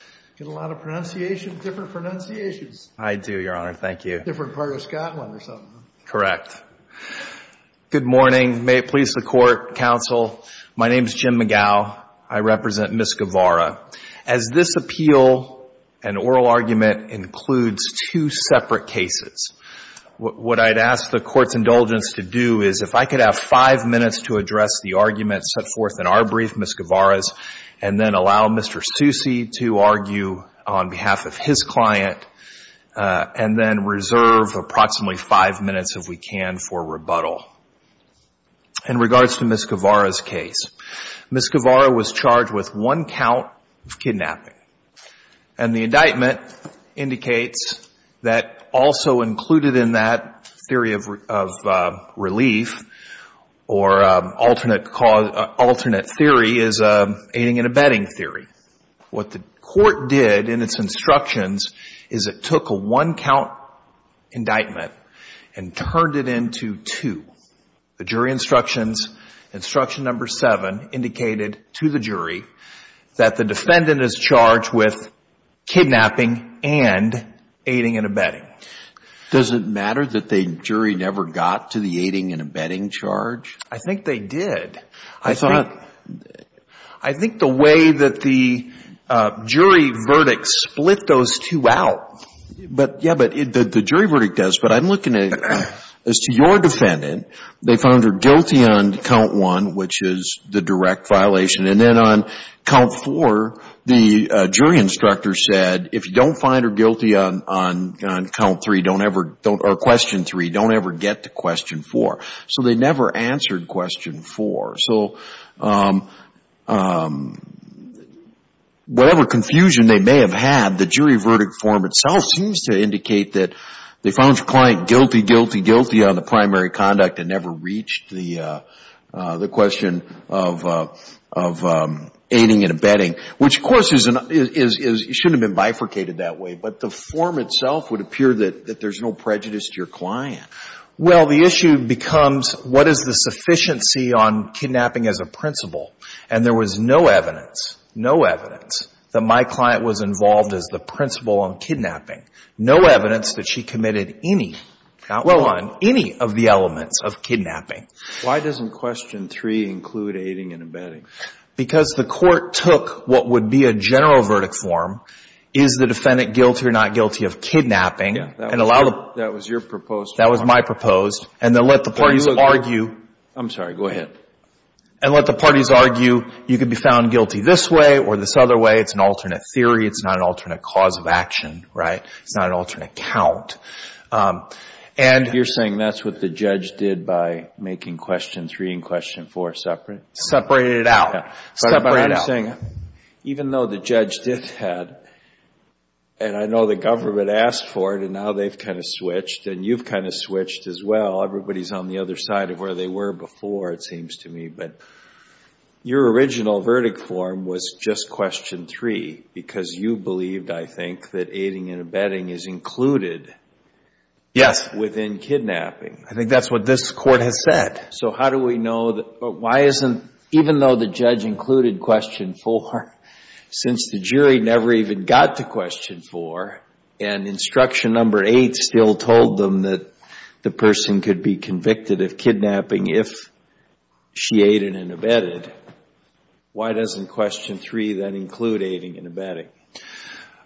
I get a lot of pronunciations, different pronunciations. I do, Your Honor. Thank you. Different part of Scotland or something. Correct. Good morning. May it please the Court, counsel. My name's Jim McGow. I represent Ms. Guevara. As this appeal, an oral argument includes two separate cases. What I'd ask the Court's indulgence to do is if I could have five minutes to address the argument set forth in our brief, Ms. Guevara's, and then allow Mr. Stussi to argue on behalf of his client, and then reserve approximately five minutes, if we can, for rebuttal. In regards to Ms. Guevara's case, Ms. Guevara was charged with one count of kidnapping. And the indictment indicates that also included in that theory of relief or alternate theory is aiding and abetting theory. What the Court did in its instructions is it took a one count indictment and turned it into two. The jury instructions, instruction number seven, indicated to the jury that the defendant is charged with kidnapping and aiding and abetting. Does it matter that the jury never got to the aiding and abetting charge? I think they did. I thought, I think the way that the jury verdict split those two out, but yeah, but the jury verdict does. But I'm looking at, as to your defendant, they found her guilty on count one, which is the direct violation. And then on count four, the jury instructor said, if you don't find her guilty on count three, don't ever, or question three, don't ever get to question four. So they never answered question four. So whatever confusion they may have had, the jury verdict form itself seems to indicate that they found your client guilty, guilty, guilty on the primary conduct and never reached the question of aiding and abetting. Which, of course, shouldn't have been bifurcated that way. But the form itself would appear that there's no prejudice to your client. Well, the issue becomes, what is the sufficiency on kidnapping as a principle? And there was no evidence, no evidence, that my client was involved as the principal on kidnapping. No evidence that she committed any, count one, any of the elements of kidnapping. Why doesn't question three include aiding and abetting? Because the court took what would be a general verdict form, is the defendant guilty or not guilty of kidnapping, and allowed them. That was your proposed form. That was my proposed. And then let the parties argue. I'm sorry, go ahead. And let the parties argue, you can be found guilty this way or this other way. It's an alternate theory. It's not an alternate cause of action, right? It's not an alternate count. And you're saying that's what the judge did by making question three and question four separate? Separated it out. Separated it out. Even though the judge did that, and I know the government asked for it, and now they've kind of switched, and you've kind of switched as well. Everybody's on the other side of where they were before, it seems to me. But your original verdict form was just question three, because you believed, I think, that aiding and abetting is included within kidnapping. I think that's what this court has said. So how do we know that, but why isn't, even though the judge included question four, since the jury never even got to question four, and instruction number eight still told them that the person could be convicted of kidnapping if she aided and abetted, why doesn't question three then include aiding and abetting?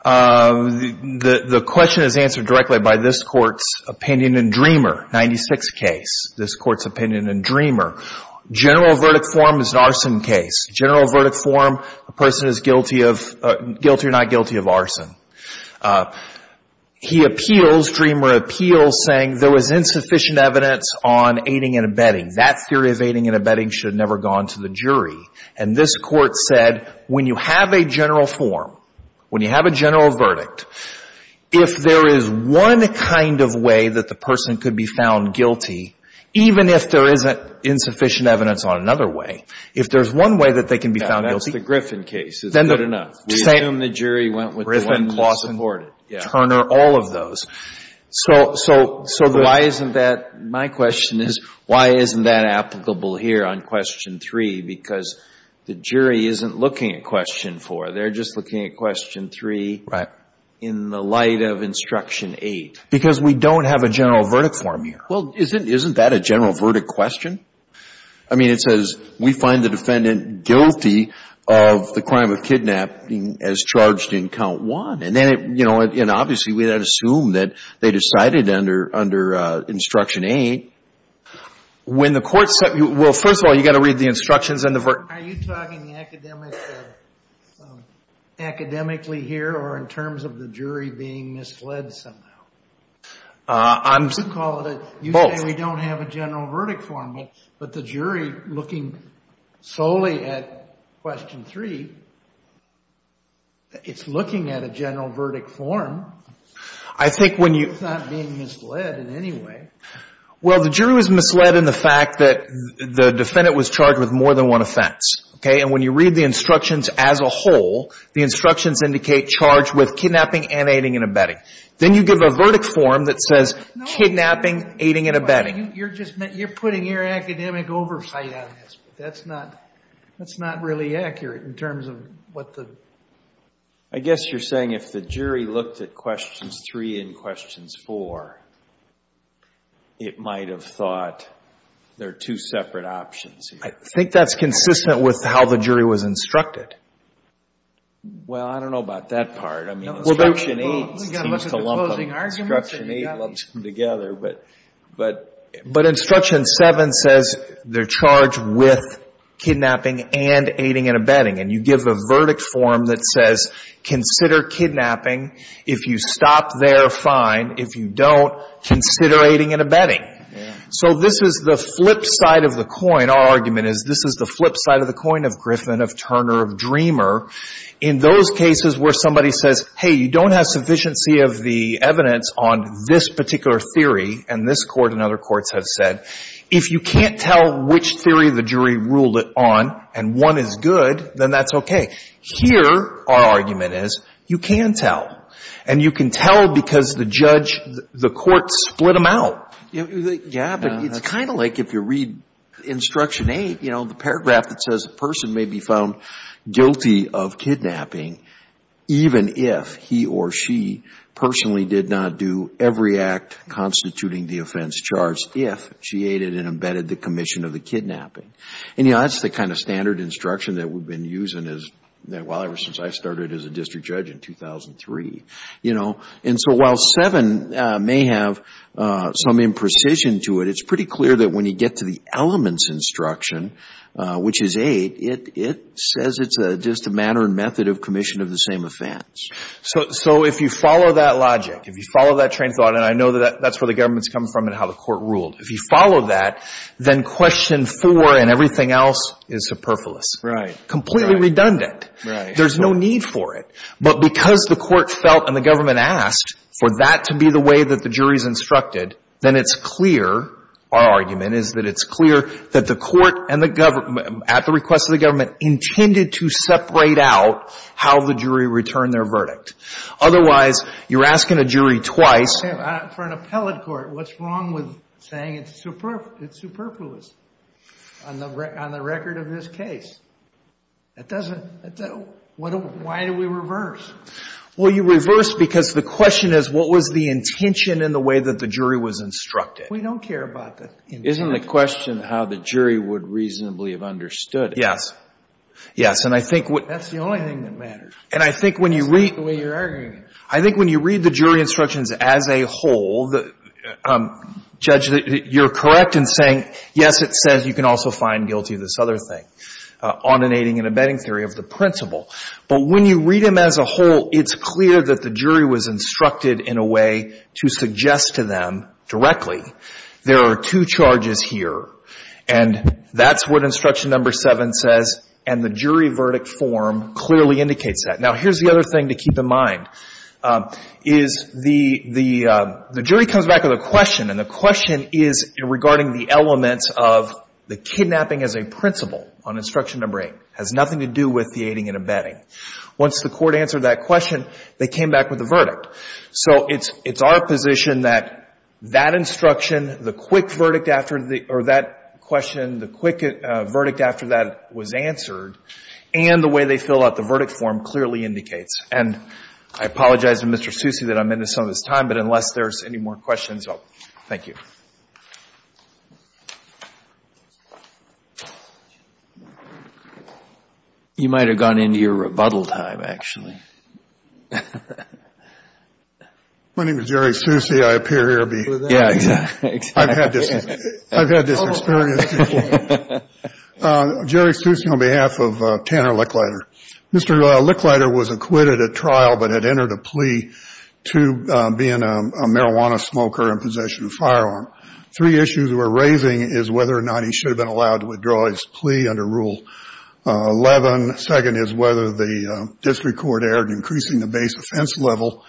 The question is answered directly by this court's opinion in Dreamer, 96 case, this court's opinion in Dreamer. General verdict form is an arson case. General verdict form, a person is guilty or not he appeals, Dreamer appeals, saying there was insufficient evidence on aiding and abetting. That theory of aiding and abetting should have never gone to the jury. And this court said, when you have a general form, when you have a general verdict, if there is one kind of way that the person could be found guilty, even if there isn't insufficient evidence on another way, if there's one way that they can be found guilty. That's the Griffin case. It's good enough. We assume the jury went with the one clause supported. Turner, all of those. So why isn't that, my question is, why isn't that applicable here on question three? Because the jury isn't looking at question four. They're just looking at question three in the light of instruction eight. Because we don't have a general verdict form here. Well, isn't that a general verdict question? I mean, it says, we find the defendant guilty of the crime of kidnapping as charged in count one. And obviously, we then assume that they decided under instruction eight. When the court said, well, first of all, you've got to read the instructions and the verdict. Are you talking academically here, or in terms of the jury being misled somehow? You call it a, you say we don't have a general verdict form. But the jury, looking solely at question three, it's looking at a general verdict form. I think when you- It's not being misled in any way. Well, the jury was misled in the fact that the defendant was charged with more than one offense. Okay? And when you read the instructions as a whole, the instructions indicate charge with kidnapping, and aiding, and abetting. Then you give a verdict form that says kidnapping, aiding, and abetting. You're just, you're putting your academic oversight on this. That's not, that's not really accurate in terms of what the- I guess you're saying if the jury looked at questions three and questions four, it might have thought there are two separate options. I think that's consistent with how the jury was instructed. Well, I don't know about that part. I mean, instruction eight seems to lump them together, but instruction seven says they're charged with kidnapping, and aiding, and abetting. And you give a verdict form that says consider kidnapping. If you stop there, fine. If you don't, consider aiding and abetting. So this is the flip side of the coin. Our argument is this is the flip side of the coin of Griffin, of Turner, of Dreamer. In those cases where somebody says, hey, you don't have sufficiency of the evidence on this particular theory. And this court and other courts have said, if you can't tell which theory the jury ruled it on, and one is good, then that's OK. Here, our argument is you can tell. And you can tell because the judge, the court split them out. Yeah, but it's kind of like if you read instruction eight, you know, the paragraph that says a person may be found guilty of kidnapping even if he or she personally did not do every act constituting the offense charged if she aided and abetted the commission of the kidnapping. And that's the kind of standard instruction that we've been using as well ever since I started as a district judge in 2003. And so while seven may have some imprecision to it, it's pretty clear that when you get to the elements instruction, which is eight, it says it's just a manner and method of commission of the same offense. So if you follow that logic, if you follow that train of thought, and I know that that's where the government's come from and how the court ruled. If you follow that, then question four and everything else is superfluous, completely redundant. There's no need for it. But because the court felt and the government asked for that to be the way that the jury's instructed, then it's clear, our argument is that it's clear that the court and the government, at the request of the government, intended to separate out how the jury returned their verdict. Otherwise, you're asking a jury twice. For an appellate court, what's wrong with saying it's superfluous on the record of this case? That doesn't, why do we reverse? Well, you reverse because the question is, what was the intention in the way that the jury was instructed? We don't care about the intent. Isn't the question how the jury would reasonably have understood it? Yes, yes. And I think what- That's the only thing that matters. And I think when you read- The way you're arguing it. I think when you read the jury instructions as a whole, Judge, you're correct in saying, yes, it says you can also find guilty of this other thing, ordinating and abetting theory of the principle. But when you read them as a whole, it's clear that the jury was instructed in a way to suggest to them directly, there are two charges here, and that's what instruction number seven says, and the jury verdict form clearly indicates that. Now, here's the other thing to keep in mind, is the jury comes back with a question, and the question is regarding the elements of the kidnapping as a principle on instruction number eight, has nothing to do with the aiding and abetting. Once the court answered that question, they came back with a verdict. So it's our position that that instruction, the quick verdict after that question, the quick verdict after that was answered, and the way they fill out the verdict form clearly indicates. And I apologize to Mr. Susi that I'm into some of his time, but unless there's any more questions, thank you. You might have gone into your rebuttal time, actually. My name is Jerry Susi. I appear here to be. Yeah, exactly. I've had this experience. Jerry Susi on behalf of Tanner Licklider. Mr. Licklider was acquitted at trial, but had entered a plea to being a marijuana smoker in possession of a firearm. Three issues we're raising is whether or not he should have been allowed to withdraw his plea under Rule 11. Second is whether the district court increasing the base offense level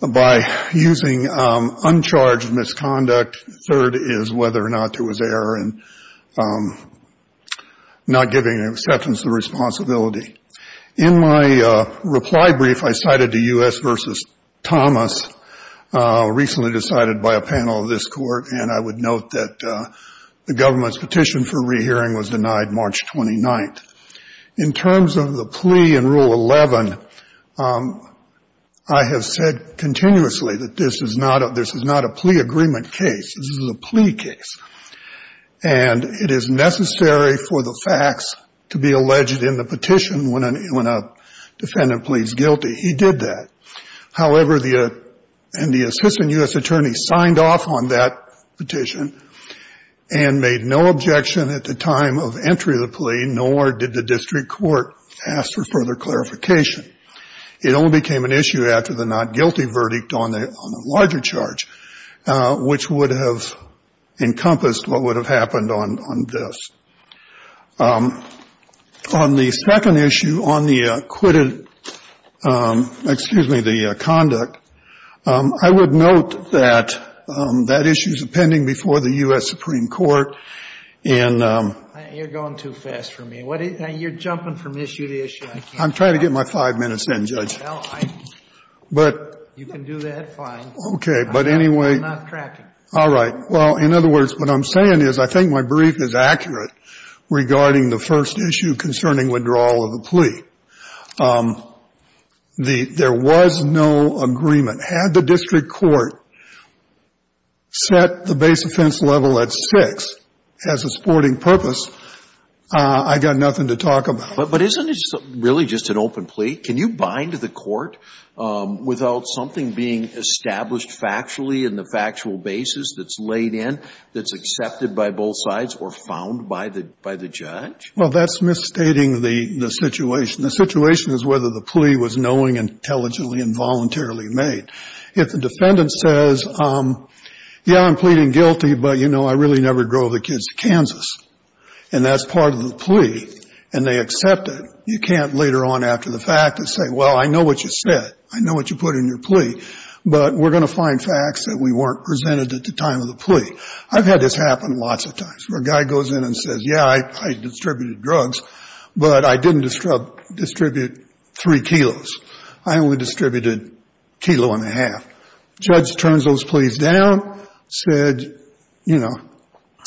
by using uncharged misconduct. Third is whether or not there was error and not giving an acceptance of responsibility. In my reply brief, I cited the U.S. versus Thomas, recently decided by a panel of this court, and I would note that the government's petition for rehearing was denied March 29th. In terms of the plea in Rule 11, I have said continuously that this is not a plea agreement case. This is a plea case, and it is necessary for the facts to be alleged in the petition when a defendant pleads guilty. He did that. However, the assistant U.S. attorney signed off on that petition and made no objection at the time of entry of the plea, nor did the district court ask for further clarification. It only became an issue after the not guilty verdict on the larger charge, which would have encompassed what would have happened on this. On the second issue, on the acquitted, excuse me, the conduct, I would note that that issue is pending before the U.S. Supreme Court. And you're going too fast for me. You're jumping from issue to issue. I'm trying to get my five minutes in, Judge. Well, you can do that fine. Okay. But anyway, all right. Well, in other words, what I'm saying is I think my brief is accurate regarding the first issue concerning withdrawal of the plea. There was no agreement. Had the district court set the base offense level at 6, as a sporting purpose, I got nothing to talk about. But isn't it really just an open plea? Can you bind the court without something being established factually in the factual basis that's laid in, that's accepted by both sides or found by the judge? Well, that's misstating the situation. The situation is whether the plea was knowing intelligently and voluntarily made. If the defendant says, yeah, I'm pleading guilty, but, you know, I really never drove the kids to Kansas. And that's part of the plea. And they accept it. You can't later on after the fact and say, well, I know what you said. I know what you put in your plea. But we're going to find facts that we weren't presented at the time of the plea. I've had this happen lots of times, where a guy goes in and says, yeah, I distributed drugs, but I didn't distribute three kilos. I only distributed a kilo and a half. Judge turns those pleas down, said, you know,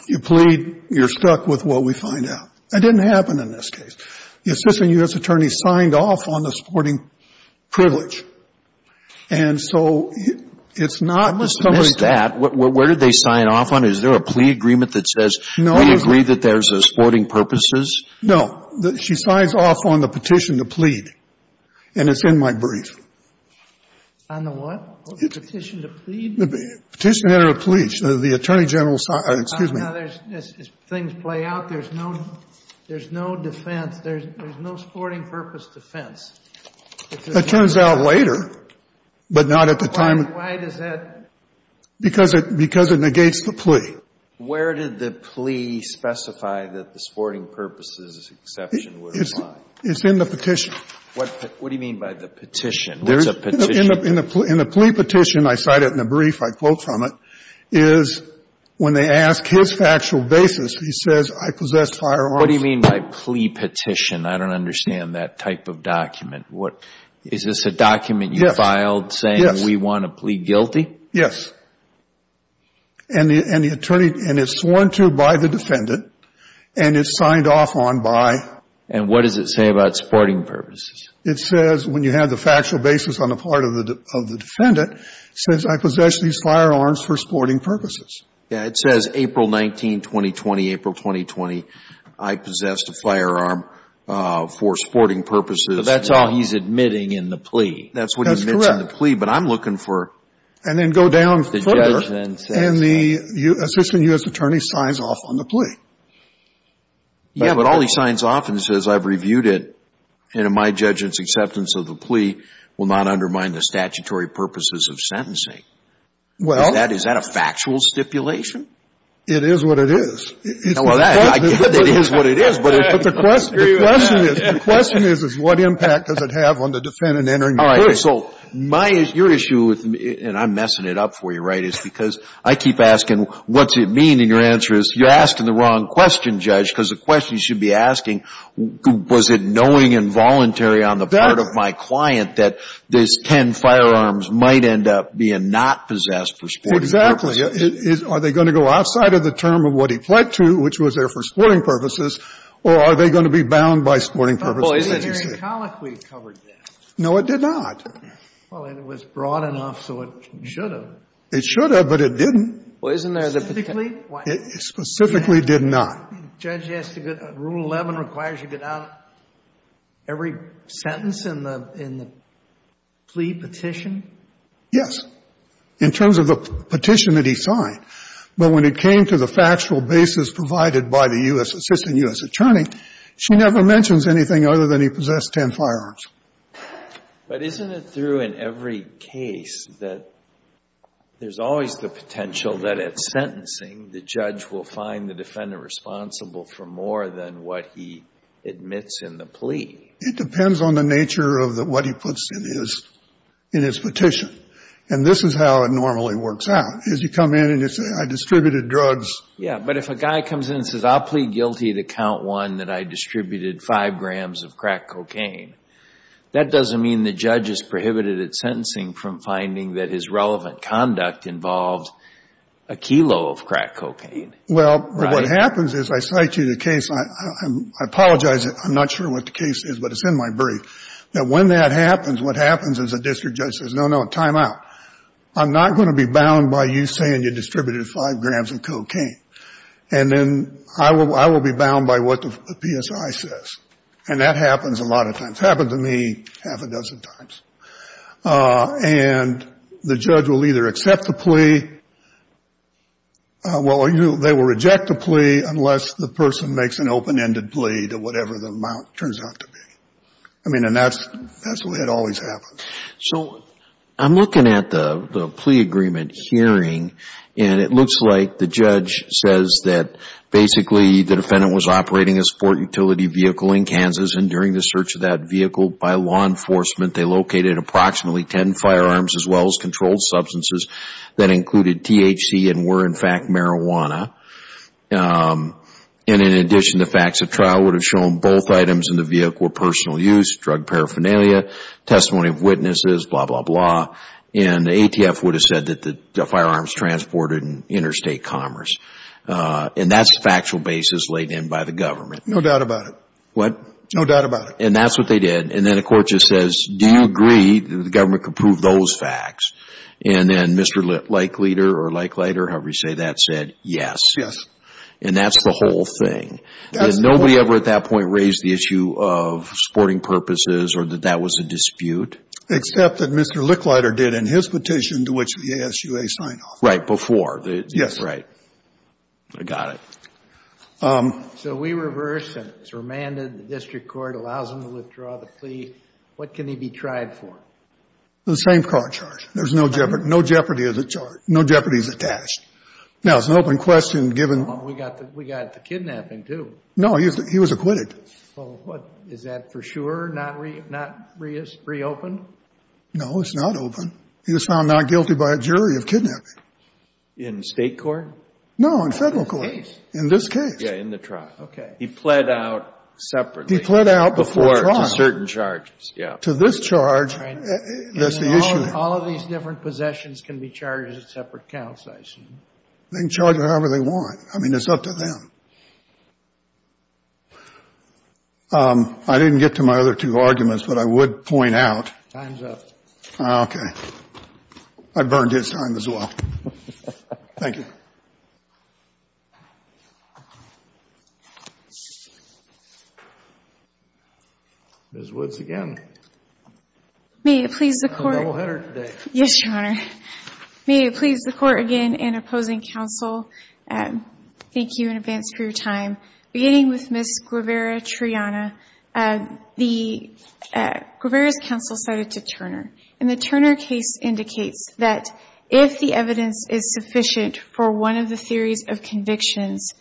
you plead. You're stuck with what we find out. That didn't happen in this case. The assistant U.S. attorney signed off on the sporting privilege. And so it's not the same as that. Where did they sign off on it? Is there a plea agreement that says we agree that there's sporting purposes? No. She signs off on the petition to plead. And it's in my brief. On the what? Petition to plead? The petition to enter a plea. The attorney general, excuse me. Now, as things play out, there's no defense. There's no sporting purpose defense. It turns out later, but not at the time. Why does that? Because it negates the plea. Where did the plea specify that the sporting purposes exception would apply? It's in the petition. What do you mean by the petition? What's a petition? In the plea petition, I cite it in the brief, I quote from it, is when they ask his factual basis, he says, I possess firearms. What do you mean by plea petition? I don't understand that type of document. Is this a document you filed saying we want to plead guilty? Yes. And it's sworn to by the defendant. And it's signed off on by... And what does it say about sporting purposes? It says when you have the factual basis on the part of the defendant, it says I possess these firearms for sporting purposes. Yeah, it says April 19, 2020, April 2020, I possessed a firearm for sporting purposes. That's all he's admitting in the plea. That's what he admits in the plea. But I'm looking for... And then go down further and the assistant U.S. attorney signs off on the plea. Yeah, but all he signs off and says I've reviewed it, and in my judgment's acceptance of the plea will not undermine the statutory purposes of sentencing. Well... Is that a factual stipulation? It is what it is. Well, I get that it is what it is, but... But the question is, the question is, is what impact does it have on the defendant entering the court? All right, so my, your issue with me, and I'm messing it up for you, right, is because I keep asking, what's it mean? Your answer is, you're asking the wrong question, Judge, because the question you should be asking, was it knowing involuntary on the part of my client that these 10 firearms might end up being not possessed for sporting purposes? Exactly. Are they going to go outside of the term of what he pled to, which was there for sporting purposes, or are they going to be bound by sporting purposes as you say? Well, isn't there in Collick we covered that? No, it did not. Well, it was broad enough, so it should have. It should have, but it didn't. Well, isn't there the... It specifically did not. Judge, rule 11 requires you get out every sentence in the plea petition? Yes, in terms of the petition that he signed, but when it came to the factual basis provided by the U.S. assistant U.S. attorney, she never mentions anything other than he possessed 10 firearms. But isn't it through in every case that there's always the potential that at sentencing, the judge will find the defendant responsible for more than what he admits in the plea? It depends on the nature of what he puts in his petition, and this is how it normally works out, is you come in and you say, I distributed drugs. Yeah, but if a guy comes in and says, I'll plead guilty to count one that I distributed five grams of crack cocaine, that doesn't mean the judge is prohibited at sentencing from finding that his relevant conduct involved a kilo of crack cocaine. Well, what happens is I cite you the case. I apologize. I'm not sure what the case is, but it's in my brief, that when that happens, what happens is a district judge says, no, no, time out. I'm not going to be bound by you saying you distributed five grams of cocaine, and then I will be bound by what the PSI says, and that happens a lot of times. Happened to me half a dozen times. And the judge will either accept the plea, well, they will reject the plea unless the person makes an open-ended plea to whatever the amount turns out to be. I mean, and that's the way it always happens. So I'm looking at the plea agreement hearing, and it looks like the judge says that basically the defendant was operating a sport utility vehicle in Kansas, and during the search of that vehicle by law enforcement, they located approximately 10 firearms as well as controlled substances that included THC and were in fact marijuana. And in addition, the facts of trial would have shown both items in the vehicle were personal use, drug paraphernalia, testimony of witnesses, blah, blah, blah. And ATF would have said that the firearms transported in interstate commerce. And that's a factual basis laid in by the government. No doubt about it. What? No doubt about it. And that's what they did. And then the court just says, do you agree that the government could prove those facts? And then Mr. Licklider or Licklider, however you say that, said yes. Yes. And that's the whole thing. Nobody ever at that point raised the issue of sporting purposes or that that was a dispute. Except that Mr. Licklider did in his petition to which the ASUA signed off. Right, before. Yes. Right. I got it. So we reverse and it's remanded. The district court allows him to withdraw the plea. What can he be tried for? The same car charge. There's no jeopardy. No jeopardy is charged. No jeopardy is attached. Now, it's an open question given. We got the kidnapping too. No, he was acquitted. Well, what? Is that for sure not reopened? No, it's not open. He was found not guilty by a jury of kidnapping. In state court? No, in federal court. In this case? Yeah, in the trial. Okay. He pled out separately. He pled out before trial. To certain charges, yeah. To this charge, that's the issue. All of these different possessions can be charged at separate counts, I assume. They can charge it however they want. I mean, it's up to them. I didn't get to my other two arguments, but I would point out. Time's up. Okay. I burned his time as well. Thank you. Ms. Woods again. May it please the court. I'm a doubleheader today. Yes, your honor. May it please the court again and opposing counsel. Thank you in advance for your time. Beginning with Ms. Guevara-Triana. The Guevara's counsel cited to Turner. And the Turner case indicates that if the evidence is sufficient for one of the theories of convictions,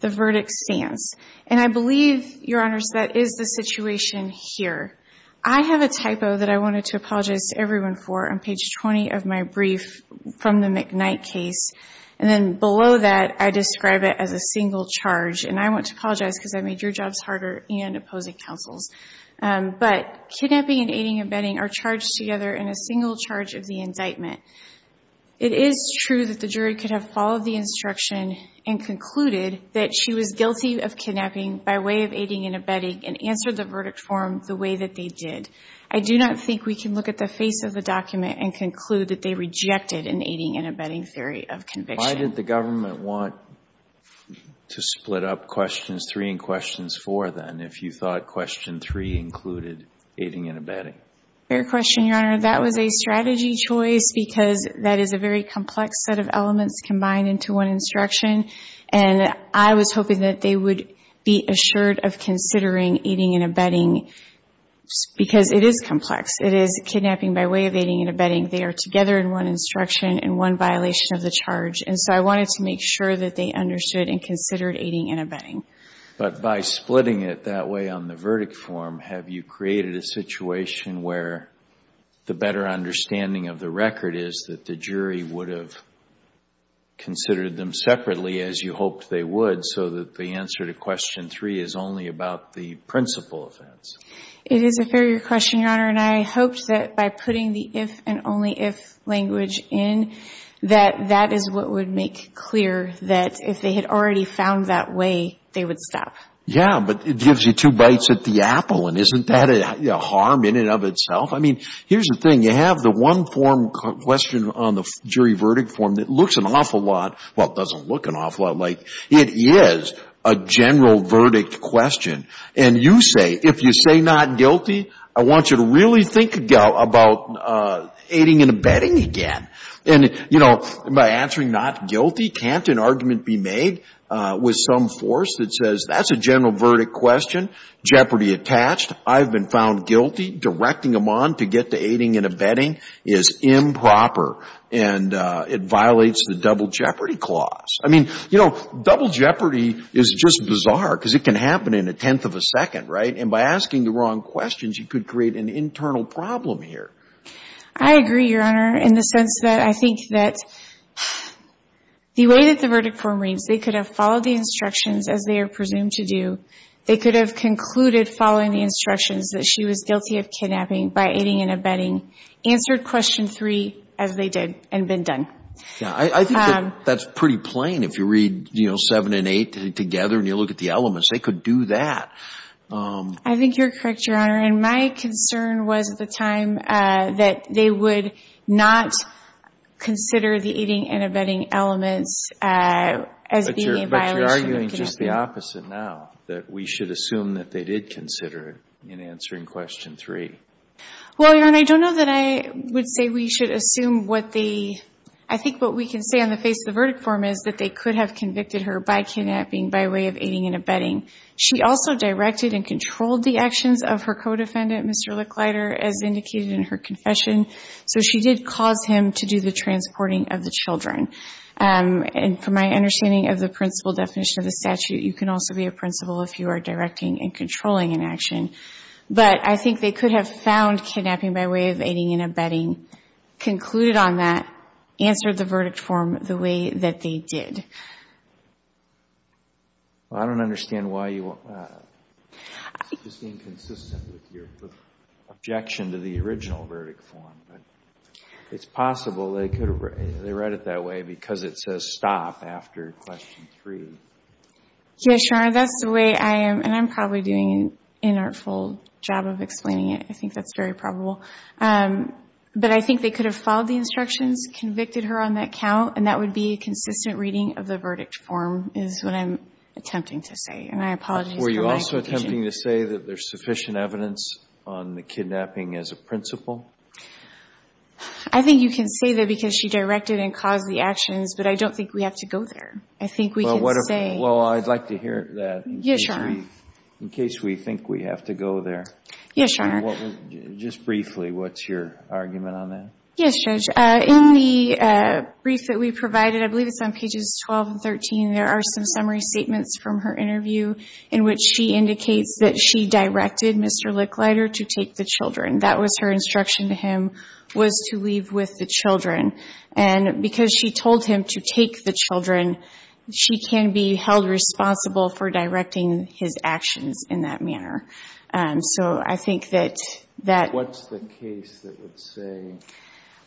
the verdict stands. And I believe, your honors, that is the situation here. I have a typo that I wanted to apologize to everyone for on page 20 of my brief from the McKnight case. And then below that, I describe it as a single charge. And I want to apologize because I made your jobs harder and opposing counsel's. But kidnapping and aiding and abetting are charged together in a single charge of the indictment. It is true that the jury could have followed the instruction and concluded that she was guilty of kidnapping by way of aiding and abetting and answered the verdict form the way that they did. I do not think we can look at the face of the document and conclude that they rejected an aiding and abetting theory of conviction. And why did the government want to split up questions three and questions four, then, if you thought question three included aiding and abetting? Fair question, your honor. That was a strategy choice because that is a very complex set of elements combined into one instruction. And I was hoping that they would be assured of considering aiding and abetting because it is complex. It is kidnapping by way of aiding and abetting. They are together in one instruction and one violation of the charge. And so I wanted to make sure that they understood and considered aiding and abetting. But by splitting it that way on the verdict form, have you created a situation where the better understanding of the record is that the jury would have considered them separately, as you hoped they would, so that the answer to question three is only about the principal offense? It is a fair question, your honor. And I hoped that by putting the if and only if language in, that that is what would make clear that if they had already found that way, they would stop. Yeah, but it gives you two bites at the apple. And isn't that a harm in and of itself? Here's the thing. You have the one form question on the jury verdict form that looks an awful lot. Well, it doesn't look an awful lot like. It is a general verdict question. And you say, if you say not guilty, I want you to really think about aiding and abetting again. And by answering not guilty, can't an argument be made with some force that says, that's a general verdict question, jeopardy attached. I've been found guilty. Directing them on to get to aiding and abetting is improper. And it violates the double jeopardy clause. I mean, you know, double jeopardy is just bizarre, because it can happen in a tenth of a second, right? And by asking the wrong questions, you could create an internal problem here. I agree, your honor, in the sense that I think that the way that the verdict form reads, they could have followed the instructions as they are presumed to do. They could have concluded following the instructions that she was guilty of kidnapping by aiding and abetting, answered question three as they did, and been done. Yeah, I think that's pretty plain if you read, you know, seven and eight together, and you look at the elements. They could do that. I think you're correct, your honor. And my concern was at the time that they would not consider the aiding and abetting elements as being a violation of conditioning. It's the opposite now, that we should assume that they did consider it in answering question three. Well, your honor, I don't know that I would say we should assume what the, I think what we can say on the face of the verdict form is that they could have convicted her by kidnapping by way of aiding and abetting. She also directed and controlled the actions of her co-defendant, Mr. Licklider, as indicated in her confession. So she did cause him to do the transporting of the children. And from my understanding of the principal definition of the statute, you can also be a principal if you are directing and controlling an action. But I think they could have found kidnapping by way of aiding and abetting, concluded on that, answered the verdict form the way that they did. Well, I don't understand why you want, it's just inconsistent with your objection to the original verdict form. It's possible they could have, they read it that way because it says stop after question three. Yes, your honor, that's the way I am. And I'm probably doing an inartful job of explaining it. I think that's very probable. But I think they could have followed the instructions, convicted her on that count, and that would be a consistent reading of the verdict form is what I'm attempting to say. And I apologize for my confusion. Were you also attempting to say that there's sufficient evidence on the kidnapping as a principal? I think you can say that because she directed and caused the actions. But I don't think we have to go there. I think we can say. Well, I'd like to hear that. Yes, your honor. In case we think we have to go there. Yes, your honor. Just briefly, what's your argument on that? Yes, Judge. In the brief that we provided, I believe it's on pages 12 and 13, there are some summary statements from her interview in which she indicates that she directed Mr. Licklider to take the children. That was her instruction to him, was to leave with the children. And because she told him to take the children, she can be held responsible for directing his actions in that manner. So I think that that. What's the case that would say?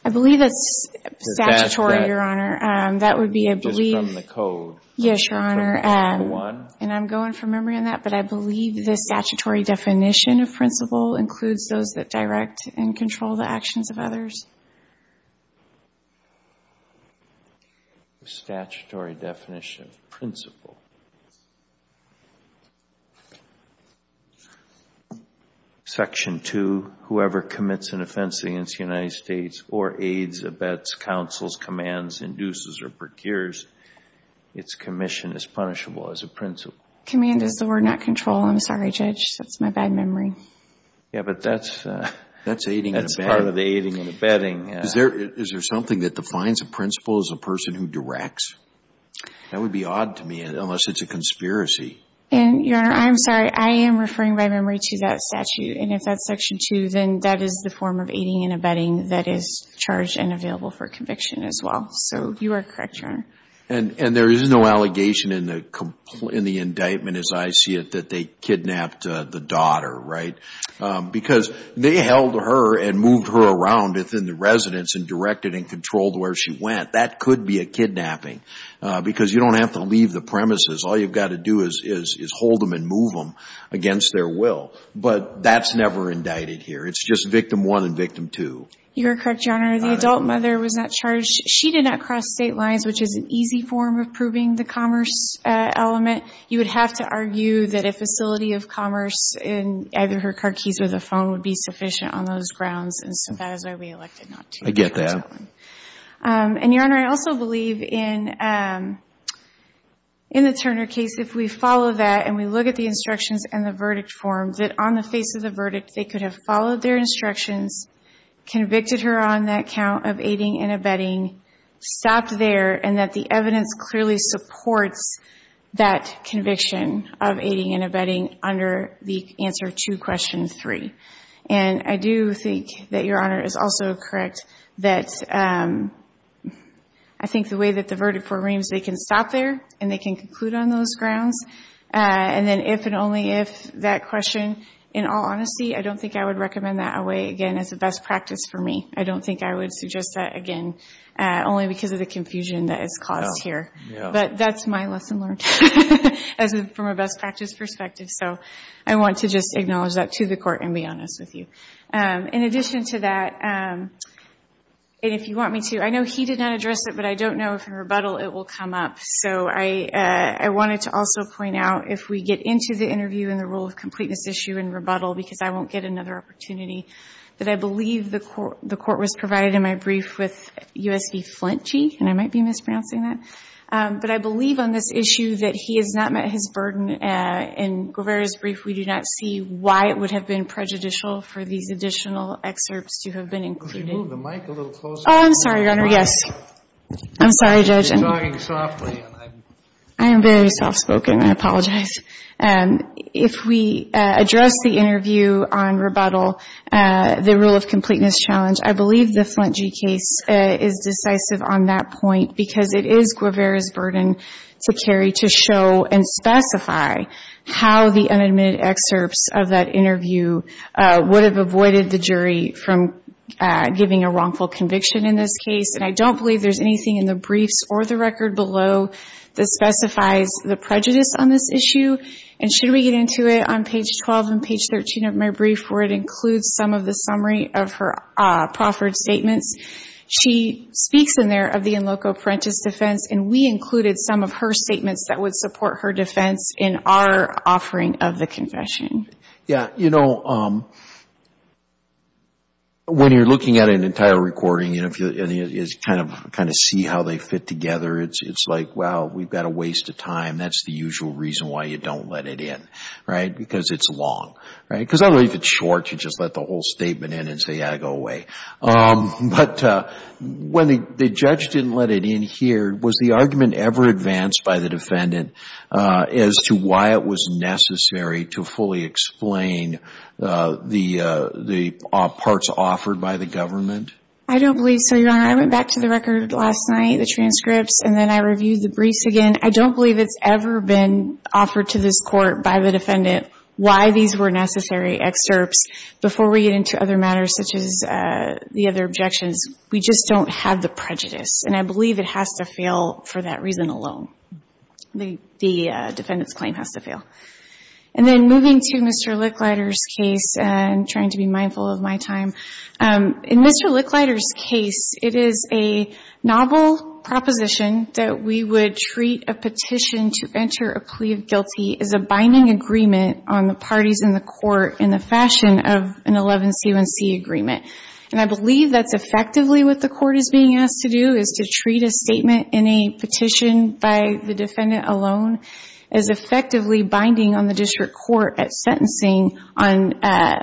I believe it's statutory, your honor. That would be, I believe. It's from the code. Yes, your honor. And I'm going from memory on that. But I believe the statutory definition of principle includes those that direct and control the actions of others. Statutory definition of principle. Section two, whoever commits an offense against the United States or aids, abets, counsels, commands, induces, or procures, its commission is punishable as a principle. Command is the word, not control. I'm sorry, Judge. That's my bad memory. Yeah, but that's aiding and abetting. That's part of the aiding and abetting. Is there something that defines a principle as a person who directs? That would be odd to me, unless it's a conspiracy. And your honor, I'm sorry. I am referring by memory to that statute. And if that's section two, then that is the form of aiding and abetting that is charged and available for conviction as well. So you are correct, your honor. And there is no allegation in the indictment as I see it that they kidnapped the daughter, right? Because they held her and moved her around within the residence and directed and controlled where she went. That could be a kidnapping. Because you don't have to leave the premises. All you've got to do is hold them and move them against their will. But that's never indicted here. It's just victim one and victim two. You're correct, your honor. The adult mother was not charged. She did not cross state lines, which is an easy form of proving the commerce element. You would have to argue that a facility of commerce in either her car keys or the phone would be sufficient on those grounds. And so that is why we elected not to. I get that. And your honor, I also believe in the Turner case, if we follow that and we look at the instructions and the verdict form, that on the face of the verdict, they could have followed their instructions, convicted her on that count of aiding and abetting, stopped there, and that the evidence clearly supports that conviction of aiding and abetting under the answer to question three. And I do think that your honor is also correct that I think the way that the verdict for Reams, they can stop there and they can conclude on those grounds. And then if and only if that question, in all honesty, I don't think I would recommend that away, again, as a best practice for me. I don't think I would suggest that, again, only because of the confusion that is caused here. But that's my lesson learned from a best practice perspective. So I want to just acknowledge that to the court and be honest with you. In addition to that, and if you want me to, I know he did not address it, but I don't know if in rebuttal it will come up. So I wanted to also point out, if we get into the interview and the rule of completeness issue in rebuttal, because I won't get another opportunity, that I believe the court was provided in my brief with U.S.B. Flintchi. And I might be mispronouncing that. But I believe on this issue that he has not met his burden. In Guevara's brief, we do not see why it would have been prejudicial for these additional excerpts to have been included. Could you move the mic a little closer? Oh, I'm sorry, your honor. Yes. I'm sorry, Judge. You're talking softly. I am very soft spoken. I apologize. If we address the interview on rebuttal, the rule of completeness challenge, I believe the Flintchi case is decisive on that point because it is Guevara's burden to carry to show and specify how the unadmitted excerpts of that interview would have avoided the jury from giving a wrongful conviction in this case. And I don't believe there's anything in the briefs or the record below that specifies the prejudice on this issue. And should we get into it on page 12 and page 13 of my brief where it includes some of the summary of her proffered statements? She speaks in there of the in loco parentis defense. And we included some of her statements that would support her defense in our offering of the confession. Yeah, you know, when you're looking at an entire recording and you kind of see how they fit together, it's like, well, we've got to waste the time. That's the usual reason why you don't let it in, right? Because it's long, right? Because if it's short, you just let the whole statement in and say, yeah, go away. But when the judge didn't let it in here, was the argument ever advanced by the defendant as to why it was necessary to fully explain the parts offered by the government? I don't believe so, Your Honor. I went back to the record last night, the transcripts, and then I reviewed the briefs again. I don't believe it's ever been offered to this court by the defendant why these were necessary excerpts before we get into other matters such as the other objections. We just don't have the prejudice. And I believe it has to fail for that reason alone. The defendant's claim has to fail. And then moving to Mr. Licklider's case, and trying to be mindful of my time, in Mr. Licklider's case, it is a novel proposition that we would treat a petition to enter a plea of guilty as a binding agreement on the parties in the court in the fashion of an 11C1C agreement. And I believe that's effectively what the court is being asked to do, is to treat a the defendant alone as effectively binding on the district court at sentencing on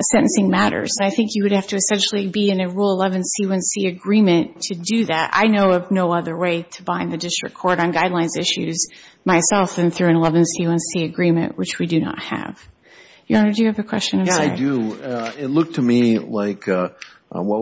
sentencing matters. I think you would have to essentially be in a Rule 11C1C agreement to do that. I know of no other way to bind the district court on guidelines issues myself than through an 11C1C agreement, which we do not have. Your Honor, do you have a question? Yeah, I do. It looked to me like what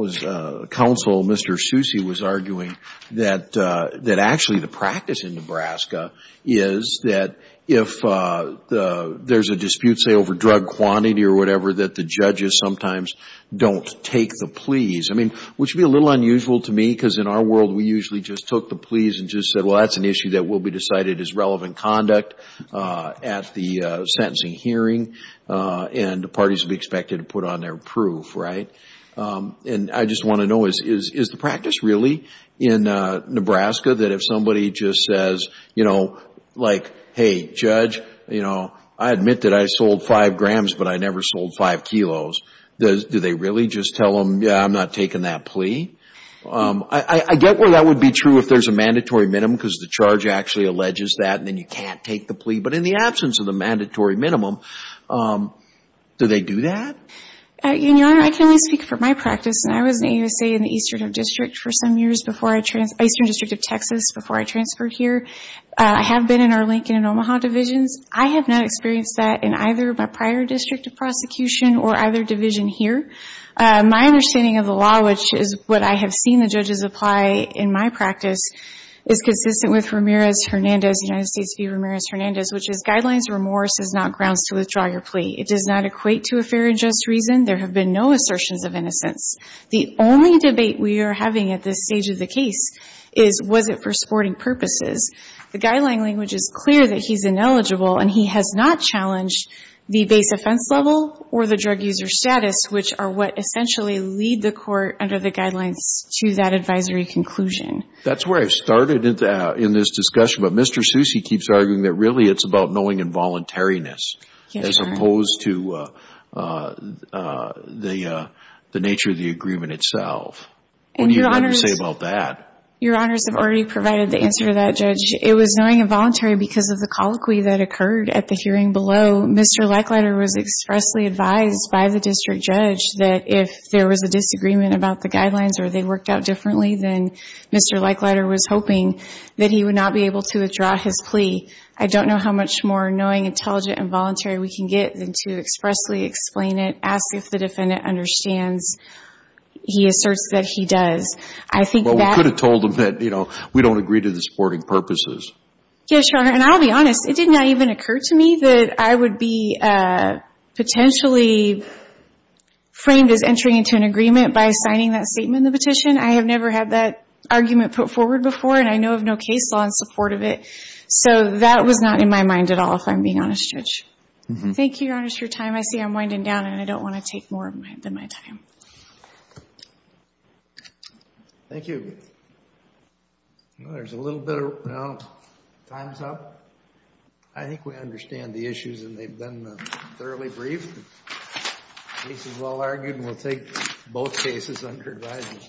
was counsel Mr. Susi was arguing, that actually the practice in Nebraska is that if there's a dispute, say, over drug quantity or whatever, that the judges sometimes don't take the pleas. I mean, which would be a little unusual to me, because in our world, we usually just took the pleas and just said, well, that's an issue that will be decided as relevant conduct at the sentencing hearing, and the parties would be expected to put on their proof, right? And I just want to know, is the practice really in Nebraska that if somebody just says, you know, like, hey, judge, you know, I admit that I sold five grams, but I never sold five kilos, do they really just tell them, yeah, I'm not taking that plea? I get where that would be true if there's a mandatory minimum, because the charge actually alleges that, and then you can't take the plea. But in the absence of the mandatory minimum, do they do that? Your Honor, I can only speak for my practice, and I was in the Eastern District of Texas before I transferred here. I have been in our Lincoln and Omaha divisions. I have not experienced that in either my prior district of prosecution or either division here. My understanding of the law, which is what I have seen the judges apply in my practice, is consistent with Ramirez-Hernandez, United States v. Ramirez-Hernandez, which is guidelines remorse is not grounds to withdraw your plea. It does not equate to a fair and just reason. There have been no assertions of innocence. The only debate we are having at this stage of the case is, was it for supporting purposes? The guideline language is clear that he's ineligible, and he has not challenged the base offense level or the drug user status, which are what essentially lead the court under the guidelines to that advisory conclusion. That's where I started in this discussion, but Mr. Seuss, he keeps arguing that really it's about knowing involuntariness as opposed to the nature of the agreement itself. What do you have to say about that? Your Honors have already provided the answer to that, Judge. It was knowing involuntary because of the colloquy that occurred at the hearing below. Mr. Leichleiter was expressly advised by the district judge that if there was a disagreement about the guidelines or they worked out differently, then Mr. Leichleiter was hoping that he would not be able to withdraw his plea. I don't know how much more knowing, intelligent, involuntary we can get than to expressly explain it, ask if the defendant understands. He asserts that he does. I think that— Well, we could have told him that, you know, we don't agree to the supporting purposes. Yes, Your Honor, and I'll be honest. It did not even occur to me that I would be potentially framed as entering into an agreement by signing that statement in the petition. I have never had that argument put forward before, and I know of no case law in support of it. So that was not in my mind at all, if I'm being honest, Judge. Thank you, Your Honor, for your time. I see I'm winding down, and I don't want to take more of my time. Thank you. There's a little bit of, you know, time's up. I think we understand the issues, and they've been thoroughly briefed. The case is well argued, and we'll take both cases under advisement.